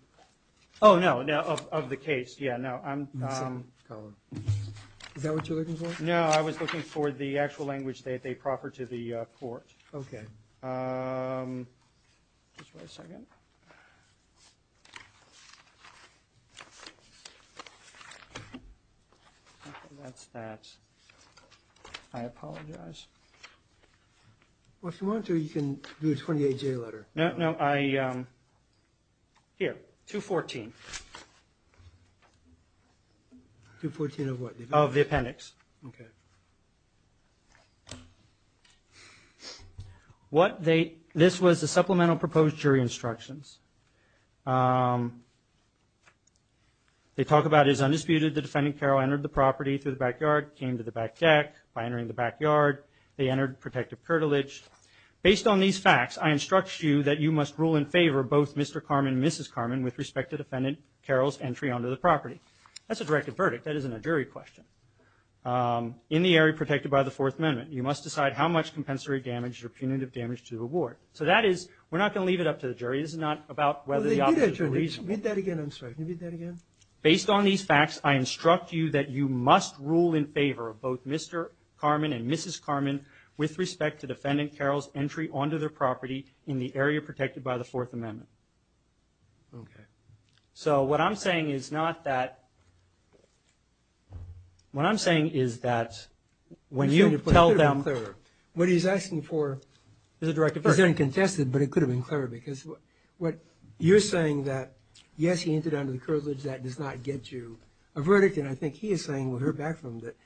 Oh, no, of the case. Yeah, no, I'm... Is that what you're looking for? No, I was looking for the actual language that they proffer to the court. Okay. Just wait a second. Okay, that's that. I apologize. Well, if you want to, you can do a 28-J letter. No, no, I... Here, 214. Of the appendix. Okay. What they... This was the supplemental proposed jury instructions. They talk about it as undisputed. The defendant, Carroll, entered the property through the backyard, came to the back deck. By entering the backyard, they entered protective curtilage. Based on these facts, I instruct you that you must rule in favor of both Mr. Carman and Mrs. Carman with respect to defendant Carroll's entry onto the property. That's a directed verdict. That isn't a jury question. In the area protected by the Fourth Amendment, you must decide how much compensatory damage or punitive damage to the ward. So that is... We're not going to leave it up to the jury. This is not about whether the officers are reasonable. Read that again, I'm sorry. Can you read that again? Based on these facts, I instruct you that you must rule in favor of both Mr. Carman and Mrs. Carman with respect to defendant Carroll's entry onto their property in the area protected by the Fourth Amendment. Okay. So what I'm saying is not that... What I'm saying is that when you tell them... It could have been clearer. What he's asking for is a directed verdict. It isn't contested, but it could have been clearer because what you're saying that, yes, he entered under the curtilage, that does not get you a verdict. And I think he is saying with her background that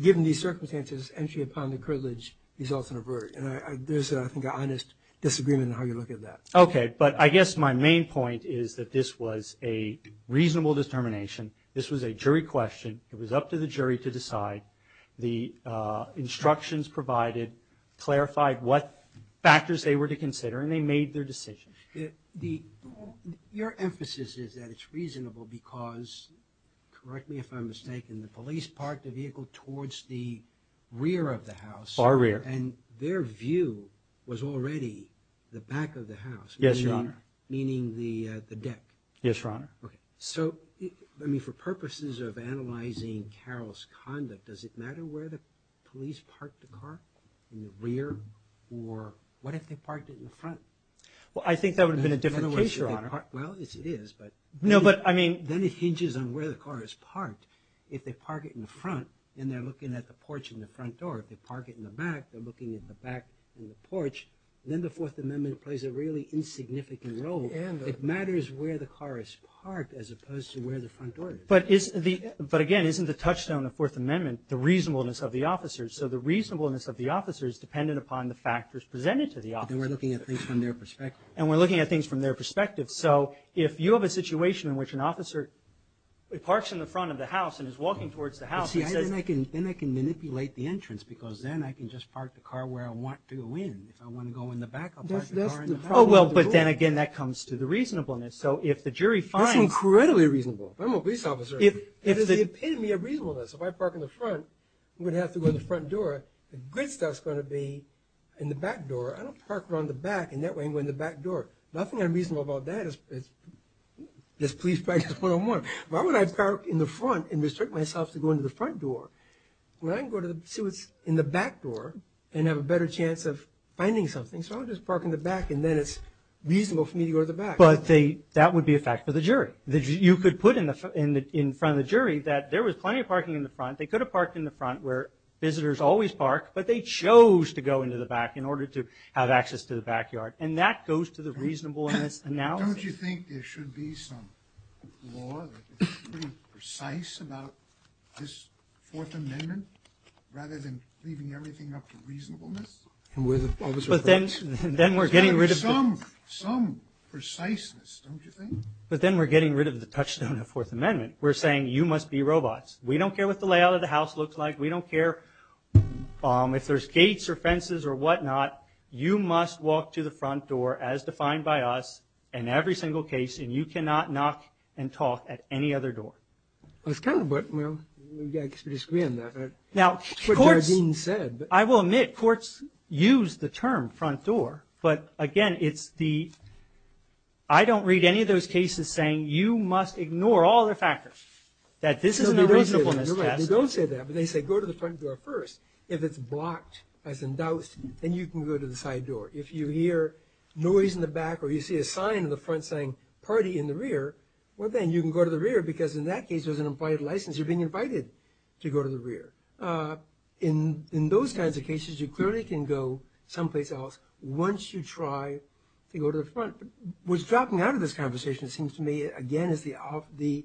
given these circumstances, entry upon the curtilage results in a verdict. And there's, I think, an honest disagreement in how you look at that. Okay. But I guess my main point is that this was a reasonable determination. This was a jury question. It was up to the jury to decide. The instructions provided clarified what factors they were to consider, and they made their decision. Your emphasis is that it's reasonable because, correct me if I'm mistaken, the police parked the vehicle towards the rear of the house. Far rear. Far rear. And their view was already the back of the house. Yes, Your Honor. Meaning the deck. Yes, Your Honor. Okay. So, I mean, for purposes of analyzing Carroll's conduct, does it matter where the police parked the car, in the rear, or what if they parked it in the front? Well, I think that would have been a different case, Your Honor. Well, it is, but... No, but, I mean... Then it hinges on where the car is parked. If they park it in the front and they're looking at the porch in the front door, if they park it in the back, they're looking at the back of the porch, then the Fourth Amendment plays a really insignificant role. It matters where the car is parked as opposed to where the front door is. But, again, isn't the touchstone of the Fourth Amendment the reasonableness of the officers? So the reasonableness of the officers is dependent upon the factors presented to the officers. Then we're looking at things from their perspective. And we're looking at things from their perspective. So if you have a situation in which an officer parks in the front of the house and is walking towards the house and says... Then I can manipulate the entrance because then I can just park the car where I want to go in. If I want to go in the back, I'll park the car in the front. Oh, well, but then, again, that comes to the reasonableness. So if the jury finds... That's incredibly reasonable. I'm a police officer. It is the epitome of reasonableness. If I park in the front, I'm going to have to go in the front door. The good stuff's going to be in the back door. I don't park around the back, and that way I'm going to the back door. Nothing unreasonable about that is police practice 101. Why would I park in the front and restrict myself to go into the front door when I can go to see what's in the back door and have a better chance of finding something? So I'll just park in the back, and then it's reasonable for me to go to the back. But that would be a fact for the jury. You could put in front of the jury that there was plenty of parking in the front. They could have parked in the front where visitors always park, but they chose to go into the back in order to have access to the backyard. And that goes to the reasonableness analysis. Don't you think there should be some law that is pretty precise about this Fourth Amendment rather than leaving everything up to reasonableness? But then we're getting rid of the touchstone of the Fourth Amendment. We're saying you must be robots. We don't care what the layout of the house looks like. We don't care if there's gates or fences or whatnot. You must walk to the front door, as defined by us, in every single case, and you cannot knock and talk at any other door. Well, it's kind of, well, you've got to be discreet on that. Now, courts, I will admit courts use the term front door. But, again, I don't read any of those cases saying you must ignore all the factors, that this is an reasonableness test. You're right. They don't say that, but they say go to the front door first. If it's blocked, as in doused, then you can go to the side door. If you hear noise in the back or you see a sign in the front saying party in the rear, well, then you can go to the rear because in that case there's an implied license. You're being invited to go to the rear. In those kinds of cases, you clearly can go someplace else once you try to go to the front. What's dropping out of this conversation, it seems to me, again, is the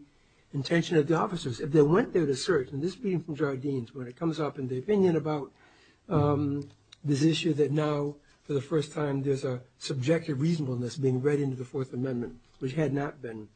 intention of the officers. If they went there to search, and this is being from Jardines, when it comes up in the opinion about this issue that now, for the first time, there's a subjective reasonableness being read into the Fourth Amendment, which had not been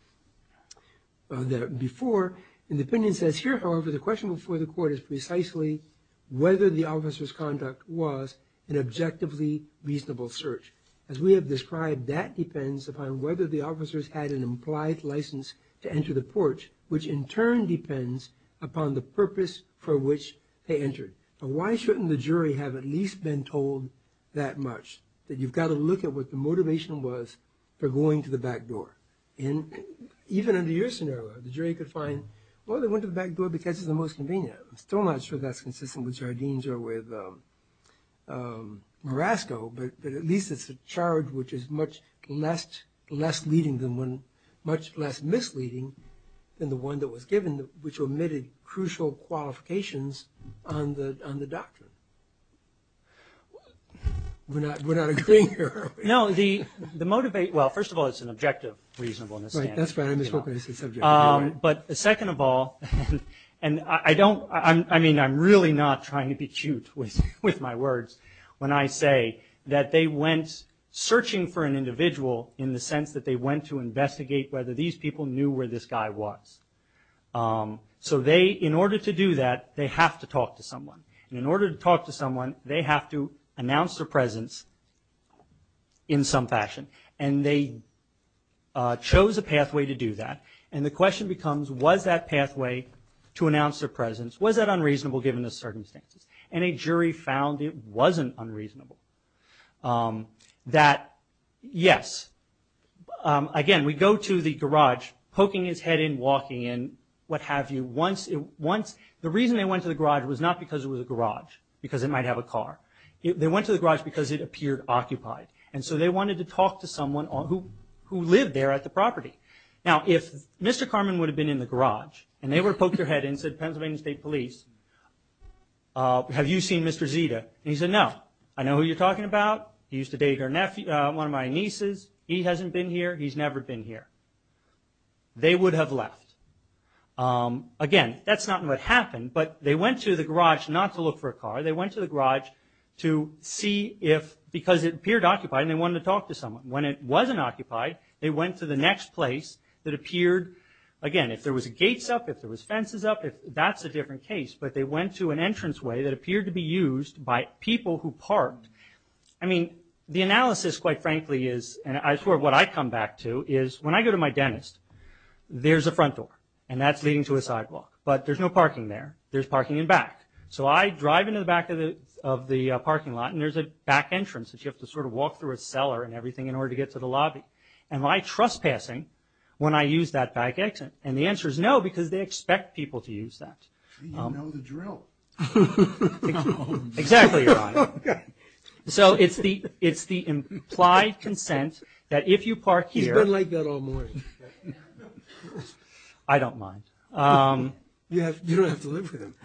there before. And the opinion says here, however, the question before the court is precisely whether the officer's conduct was an objectively reasonable search. As we have described, that depends upon whether the officers had an implied license to enter the porch, which in turn depends upon the purpose for which they entered. Now, why shouldn't the jury have at least been told that much, that you've got to look at what the motivation was for going to the back door? And even under your scenario, the jury could find, well, they went to the back door because it's the most convenient. I'm still not sure that's consistent with Jardines or with Morasco, but at least it's a charge which is much less misleading than the one that was given, which omitted crucial qualifications on the doctrine. We're not agreeing here, are we? No, the motivate, well, first of all, it's an objective reasonableness. Right, that's right, I misspoke when I said subjective. But second of all, and I don't, I mean, I'm really not trying to be cute with my words when I say that they went searching for an individual in the sense that they went to investigate whether these people knew where this guy was. So they, in order to do that, they have to talk to someone. And in order to talk to someone, they have to announce their presence in some fashion. And they chose a pathway to do that. And the question becomes, was that pathway to announce their presence, was that unreasonable given the circumstances? And a jury found it wasn't unreasonable. That, yes, again, we go to the garage, poking his head in, walking in, what have you. The reason they went to the garage was not because it was a garage, because it might have a car. They went to the garage because it appeared occupied. And so they wanted to talk to someone who lived there at the property. Now, if Mr. Carman would have been in the garage, and they would have poked their head in and said, Pennsylvania State Police, have you seen Mr. Zita? And he said, no. I know who you're talking about. He used to date one of my nieces. He hasn't been here. He's never been here. They would have left. Again, that's not what happened, but they went to the garage not to look for a car. They went to the garage to see if, because it appeared occupied and they wanted to talk to someone. When it wasn't occupied, they went to the next place that appeared, again, if there was gates up, if there was fences up, that's a different case. But they went to an entranceway that appeared to be used by people who parked. I mean, the analysis, quite frankly, is, and I swear what I come back to, is when I go to my dentist, there's a front door, and that's leading to a sidewalk. But there's no parking there. There's parking in back. So I drive into the back of the parking lot, and there's a back entrance, and you have to sort of walk through a cellar and everything in order to get to the lobby. Am I trespassing when I use that back exit? And the answer is no, because they expect people to use that. You know the drill. Exactly, Your Honor. So it's the implied consent that if you park here. He's been like that all morning. I don't mind. You don't have to live with him.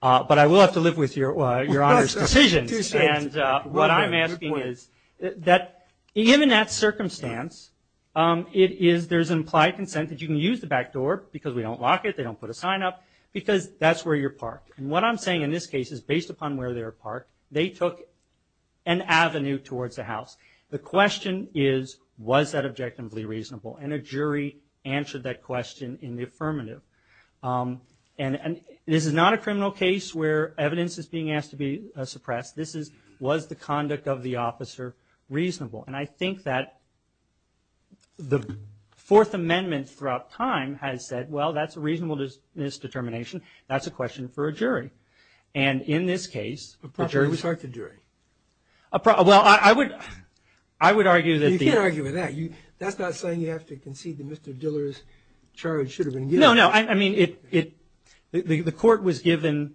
But I will have to live with Your Honor's decisions. What I'm asking is that given that circumstance, there's implied consent that you can use the back door because we don't lock it, they don't put a sign up, because that's where you're parked. And what I'm saying in this case is based upon where they were parked, they took an avenue towards the house. The question is, was that objectively reasonable? And a jury answered that question in the affirmative. And this is not a criminal case where evidence is being asked to be suppressed. This is, was the conduct of the officer reasonable? And I think that the Fourth Amendment throughout time has said, well, that's a reasonable misdetermination. That's a question for a jury. And in this case, a jury. Well, I would argue that. You can't argue with that. That's not saying you have to concede that Mr. Diller's charge should have been given. No, no. I mean, the court was given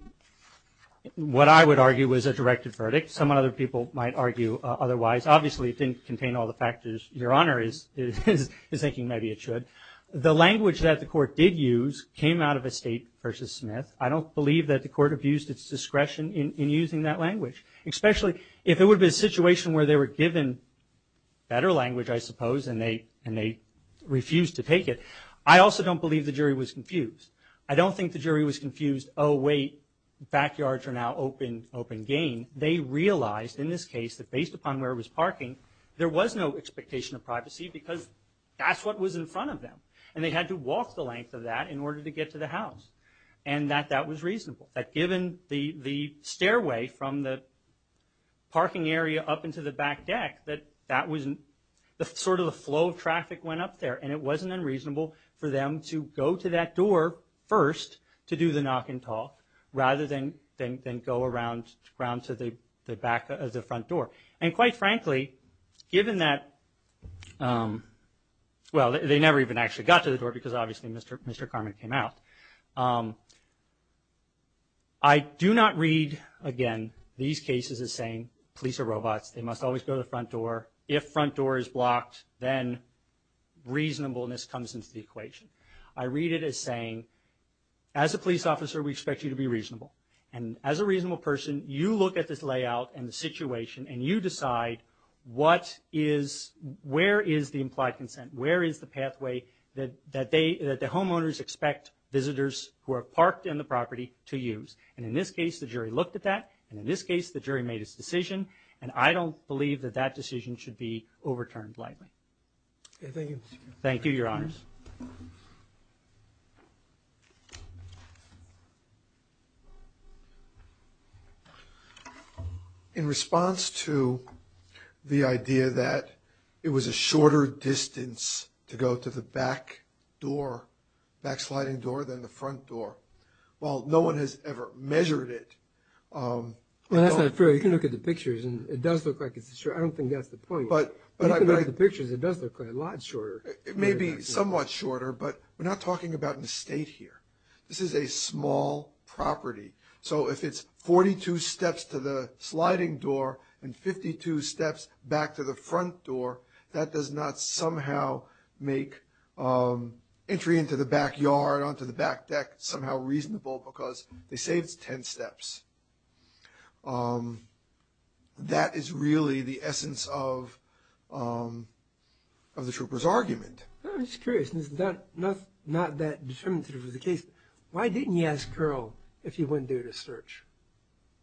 what I would argue was a directed verdict. Some other people might argue otherwise. Obviously, it didn't contain all the factors Your Honor is thinking maybe it should. The language that the court did use came out of a state versus Smith. I don't believe that the court abused its discretion in using that language, especially if it would have been a situation where they were given better language, I suppose, and they refused to take it. I also don't believe the jury was confused. I don't think the jury was confused, oh, wait, backyards are now open gain. They realized in this case that based upon where it was parking, there was no expectation of privacy because that's what was in front of them, and they had to walk the length of that in order to get to the house, and that that was reasonable. That given the stairway from the parking area up into the back deck, that that was sort of the flow of traffic went up there, and it wasn't unreasonable for them to go to that door first to do the knock and talk rather than go around to the back of the front door. And quite frankly, given that, well, they never even actually got to the door because obviously Mr. Karman came out. I do not read, again, these cases as saying police are robots. They must always go to the front door. If front door is blocked, then reasonableness comes into the equation. I read it as saying, as a police officer, we expect you to be reasonable, and as a reasonable person, you look at this layout and the situation, and you decide where is the implied consent, where is the pathway that the homeowners expect visitors who are parked in the property to use. And in this case, the jury looked at that, and in this case, the jury made its decision, and I don't believe that that decision should be overturned lightly. Thank you, Mr. Chairman. Thank you, Your Honors. In response to the idea that it was a shorter distance to go to the back sliding door than the front door, well, no one has ever measured it. Well, that's not true. You can look at the pictures, and it does look like it's shorter. I don't think that's the point. But if you look at the pictures, it does look like a lot shorter. It may be somewhat shorter, but we're not talking about an estate here. This is a small property. So if it's 42 steps to the sliding door and 52 steps back to the front door, that does not somehow make entry into the backyard, onto the back deck, somehow reasonable because they say it's 10 steps. That is really the essence of the trooper's argument. I'm just curious. This is not that determinative of the case. Why didn't you ask Carroll if he went there to search?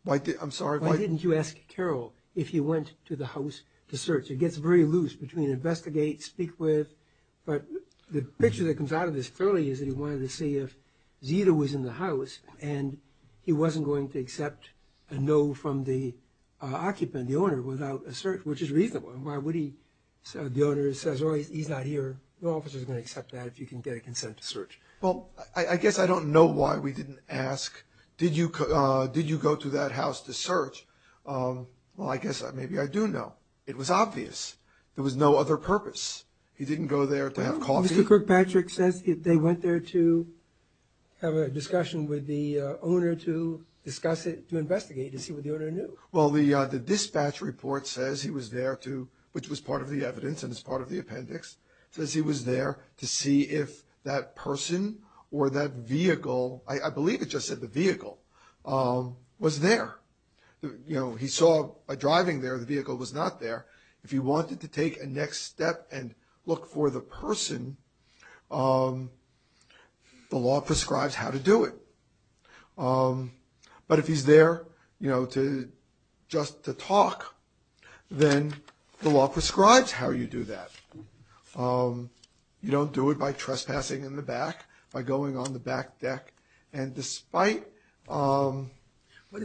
I'm sorry? Why didn't you ask Carroll if he went to the house to search? It gets very loose between investigate, speak with. But the picture that comes out of this fairly is that he wanted to see if Zita was in the house, and he wasn't going to accept a no from the occupant, the owner, without a search, which is reasonable. Why would he? The owner says, oh, he's not here. No officer's going to accept that if you can get a consent to search. Well, I guess I don't know why we didn't ask, did you go to that house to search? Well, I guess maybe I do know. It was obvious. There was no other purpose. He didn't go there to have coffee. Mr. Kirkpatrick says they went there to have a discussion with the owner to discuss it, to investigate, to see what the owner knew. Well, the dispatch report says he was there to, which was part of the evidence and is part of the appendix, says he was there to see if that person or that vehicle, I believe it just said the vehicle, was there. He saw by driving there the vehicle was not there. If he wanted to take a next step and look for the person, the law prescribes how to do it. But if he's there, you know, just to talk, then the law prescribes how you do that. You don't do it by trespassing in the back, by going on the back deck, and despite... What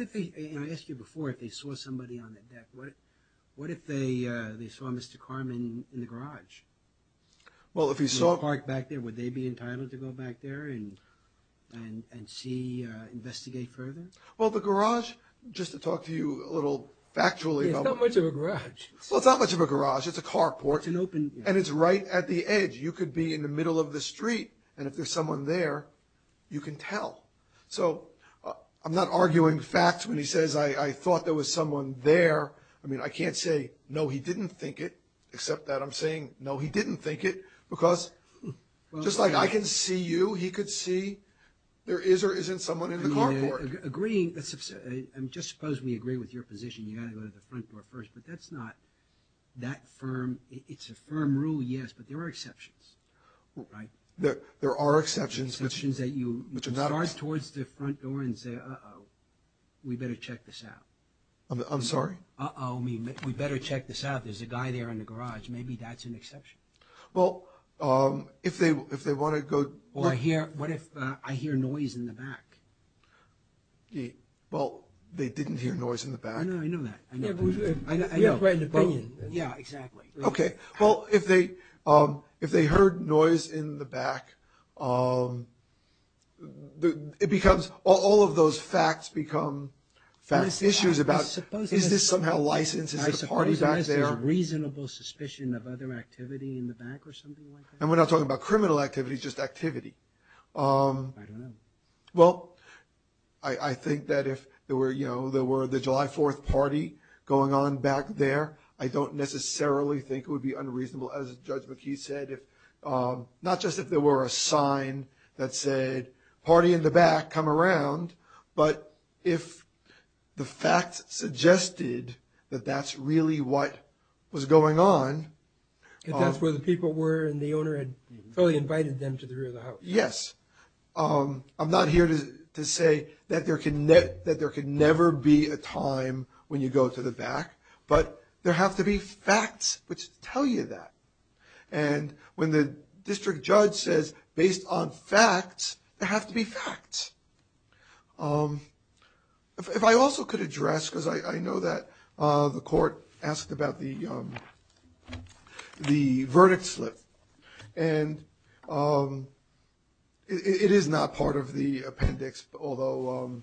if they, and I asked you before if they saw somebody on the deck, what if they saw Mr. Karman in the garage? Well, if he saw... In the park back there, would they be entitled to go back there and see, investigate further? Well, the garage, just to talk to you a little factually... It's not much of a garage. Well, it's not much of a garage. It's a carport. It's an open... And it's right at the edge. You could be in the middle of the street, and if there's someone there, you can tell. So I'm not arguing facts when he says, I thought there was someone there. I mean, I can't say, no, he didn't think it, except that I'm saying, no, he didn't think it, because just like I can see you, he could see there is or isn't someone in the carport. Agreeing... Just suppose we agree with your position, you've got to go to the front door first, but that's not that firm. It's a firm rule, yes, but there are exceptions, right? There are exceptions. There are exceptions that you start towards the front door and say, uh-oh, we'd better check this out. I'm sorry? Uh-oh, I mean, we'd better check this out. There's a guy there in the garage. Maybe that's an exception. Well, if they want to go... What if I hear noise in the back? Well, they didn't hear noise in the back. I know that. We have quite an opinion. Yeah, exactly. Okay, well, if they heard noise in the back, it becomes, all of those facts become facts, issues about is this somehow licensed? Is the party back there? I suppose there's a reasonable suspicion of other activity in the back or something like that. And we're not talking about criminal activity, just activity. I don't know. Well, I think that if there were, you know, the July 4th party going on back there, I don't necessarily think it would be unreasonable, as Judge McKee said, not just if there were a sign that said, party in the back, come around. But if the facts suggested that that's really what was going on... If that's where the people were and the owner had totally invited them to the rear of the house. Yes. I'm not here to say that there could never be a time when you go to the back. But there have to be facts which tell you that. And when the district judge says, based on facts, there have to be facts. If I also could address, because I know that the court asked about the verdict slip. And it is not part of the appendix, although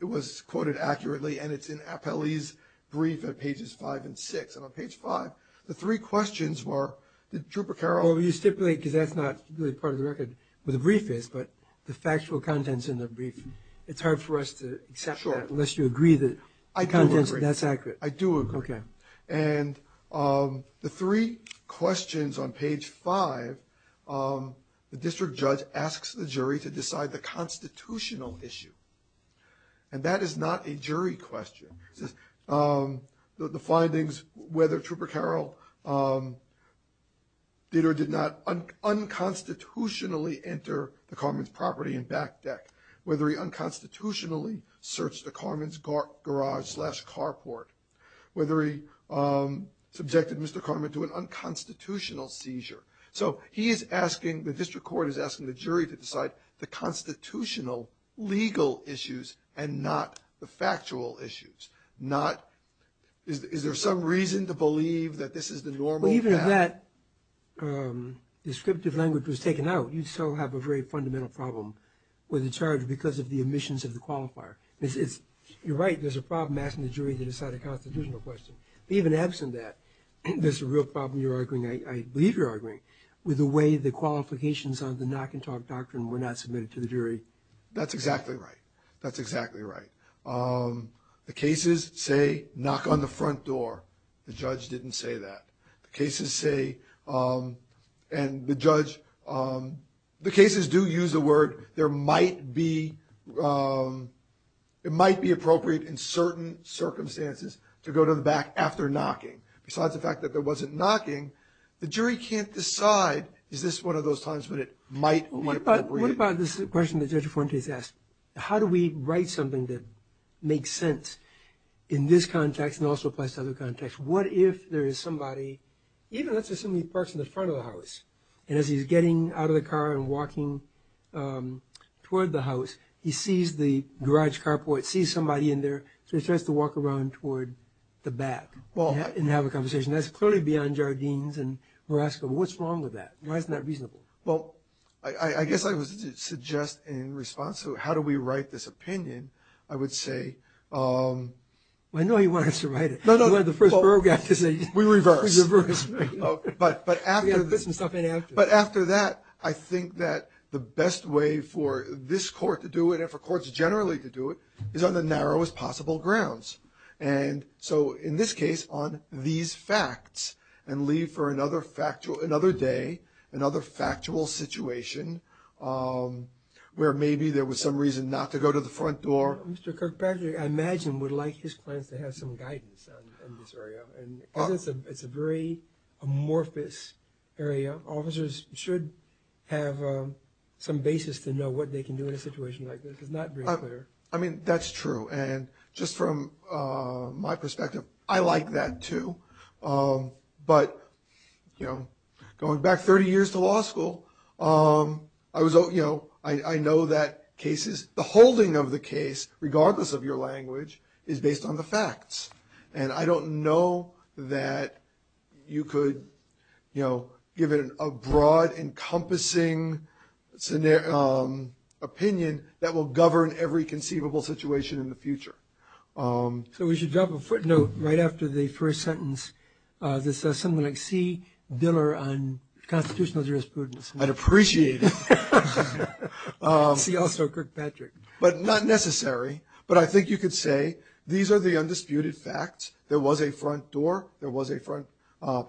it was quoted accurately, and it's in Appellee's brief at pages 5 and 6. And on page 5, the three questions were... Well, you stipulate, because that's not really part of the record, where the brief is, but the factual contents in the brief. It's hard for us to accept that unless you agree that that's accurate. I do agree. I do agree. And the three questions on page 5, the district judge asks the jury to decide the constitutional issue. And that is not a jury question. The findings, whether Trooper Carroll did or did not unconstitutionally enter the Carmen's property and back deck, whether he unconstitutionally searched the Carmen's garage slash carport, whether he subjected Mr. Carmen to an unconstitutional seizure. So he is asking, the district court is asking the jury to decide the constitutional legal issues and not the factual issues. Is there some reason to believe that this is the normal path? Well, even if that descriptive language was taken out, you'd still have a very fundamental problem with the charge because of the omissions of the qualifier. You're right, there's a problem asking the jury to decide a constitutional question. But even absent that, there's a real problem, I believe you're arguing, with the way the qualifications of the knock and talk doctrine were not submitted to the jury. That's exactly right. That's exactly right. The cases say, knock on the front door. The judge didn't say that. The cases say, and the judge, the cases do use the word, there might be, it might be appropriate in certain circumstances to go to the back after knocking. Besides the fact that there wasn't knocking, the jury can't decide, is this one of those times when it might be appropriate? What about this question that Judge Fuentes asked? How do we write something that makes sense in this context and also applies to other contexts? What if there is somebody, even let's assume he parks in the front of the house, and as he's getting out of the car and walking toward the house, he sees the garage carport, sees somebody in there, so he starts to walk around toward the back and have a conversation. That's clearly beyond Jardines, and we're asking, what's wrong with that? Why isn't that reasonable? I guess I would suggest in response to how do we write this opinion, I would say... I know you want us to write it. You wanted the first paragraph to say... We reverse. We reverse. But after that, I think that the best way for this court to do it and for courts generally to do it is on the narrowest possible grounds. And so in this case, on these facts, and leave for another day, another factual situation where maybe there was some reason not to go to the front door. Mr. Kirkpatrick, I imagine, would like his clients to have some guidance on this area. It's a very amorphous area. Officers should have some basis to know what they can do in a situation like this. It's not very clear. I mean, that's true. And just from my perspective, I like that too. But going back 30 years to law school, I know that cases, the holding of the case, regardless of your language, is based on the facts. And I don't know that you could give it a broad, encompassing opinion that will govern every conceivable situation in the future. So we should drop a footnote right after the first sentence that says something like, see Diller on constitutional jurisprudence. I'd appreciate it. See also Kirkpatrick. But not necessary. But I think you could say these are the undisputed facts. There was a front door. There was a front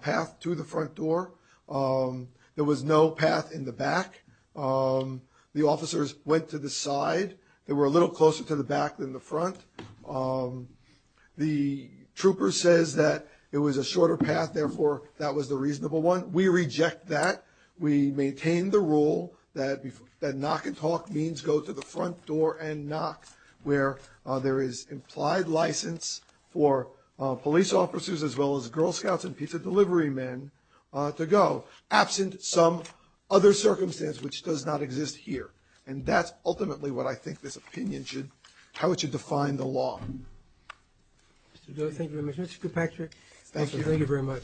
path to the front door. There was no path in the back. The officers went to the side. They were a little closer to the back than the front. The trooper says that it was a shorter path, therefore that was the reasonable one. We reject that. We maintain the rule that knock and talk means go to the front door and knock, where there is implied license for police officers as well as Girl Scouts and pizza delivery men to go, absent some other circumstance which does not exist here. And that's ultimately what I think this opinion should, how it should define the law. Mr. Diller, thank you very much. Mr. Kirkpatrick, thank you very much.